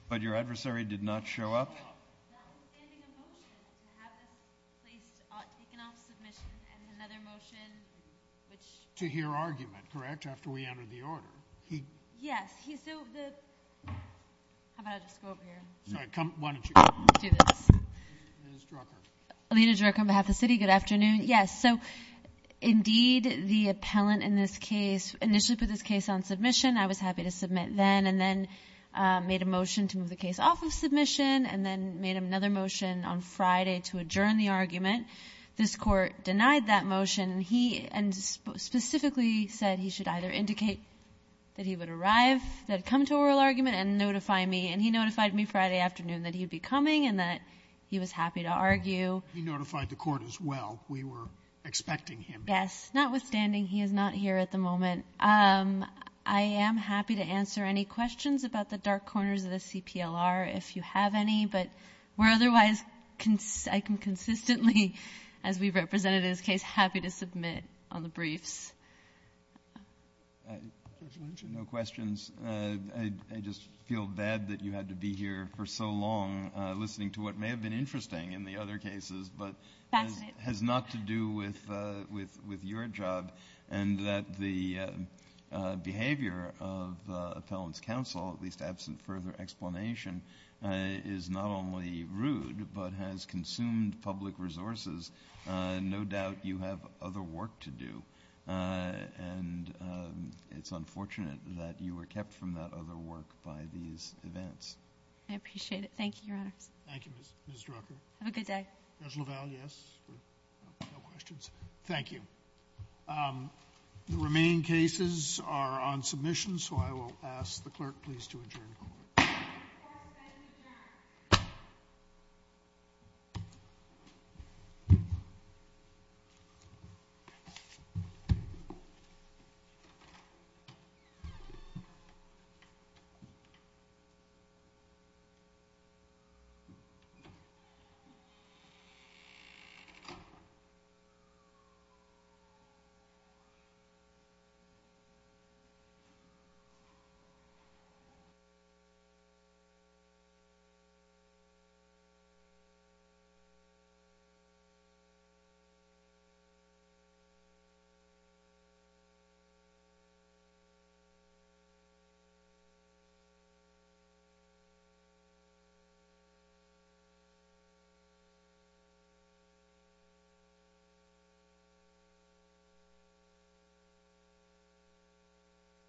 But your adversary did not show up? Notwithstanding a motion to have this place taken off submission and another motion, which... To hear argument, correct, after we entered the order. Yes, he... So, the... How about I just go over here? Sorry, come... Why don't you do this? Ms. Drucker. Alina Drucker on behalf of the city. Good afternoon. Yes, so, indeed, the appellant in this case initially put this case on submission. I was happy to submit then and then made a motion to move the case off of submission and then made another motion on Friday to adjourn the argument. This court denied that motion. He specifically said he should either indicate that he would arrive, that he'd come to oral argument, and notify me. And he notified me Friday afternoon that he'd be coming and that he was happy to argue. He notified the court as well. We were expecting him. I am happy to answer any questions about the dark corners of the CPLR if you have any, but we're otherwise, I can consistently, as we've represented this case, happy to submit on the briefs. No questions. I just feel bad that you had to be here for so long listening to what may have been interesting in the other cases, but has not to do with your job and that the behavior of the appellant's counsel, at least absent further explanation, is not only rude but has consumed public resources. No doubt you have other work to do, and it's unfortunate that you were kept from that other work by these events. I appreciate it. Thank you, Your Honors. Thank you, Ms. Drucker. Have a good day. Ms. LaValle, yes. No questions. Thank you. The remaining cases are on submission, so I will ask the clerk please to adjourn. Clerk, may we adjourn? Thank you.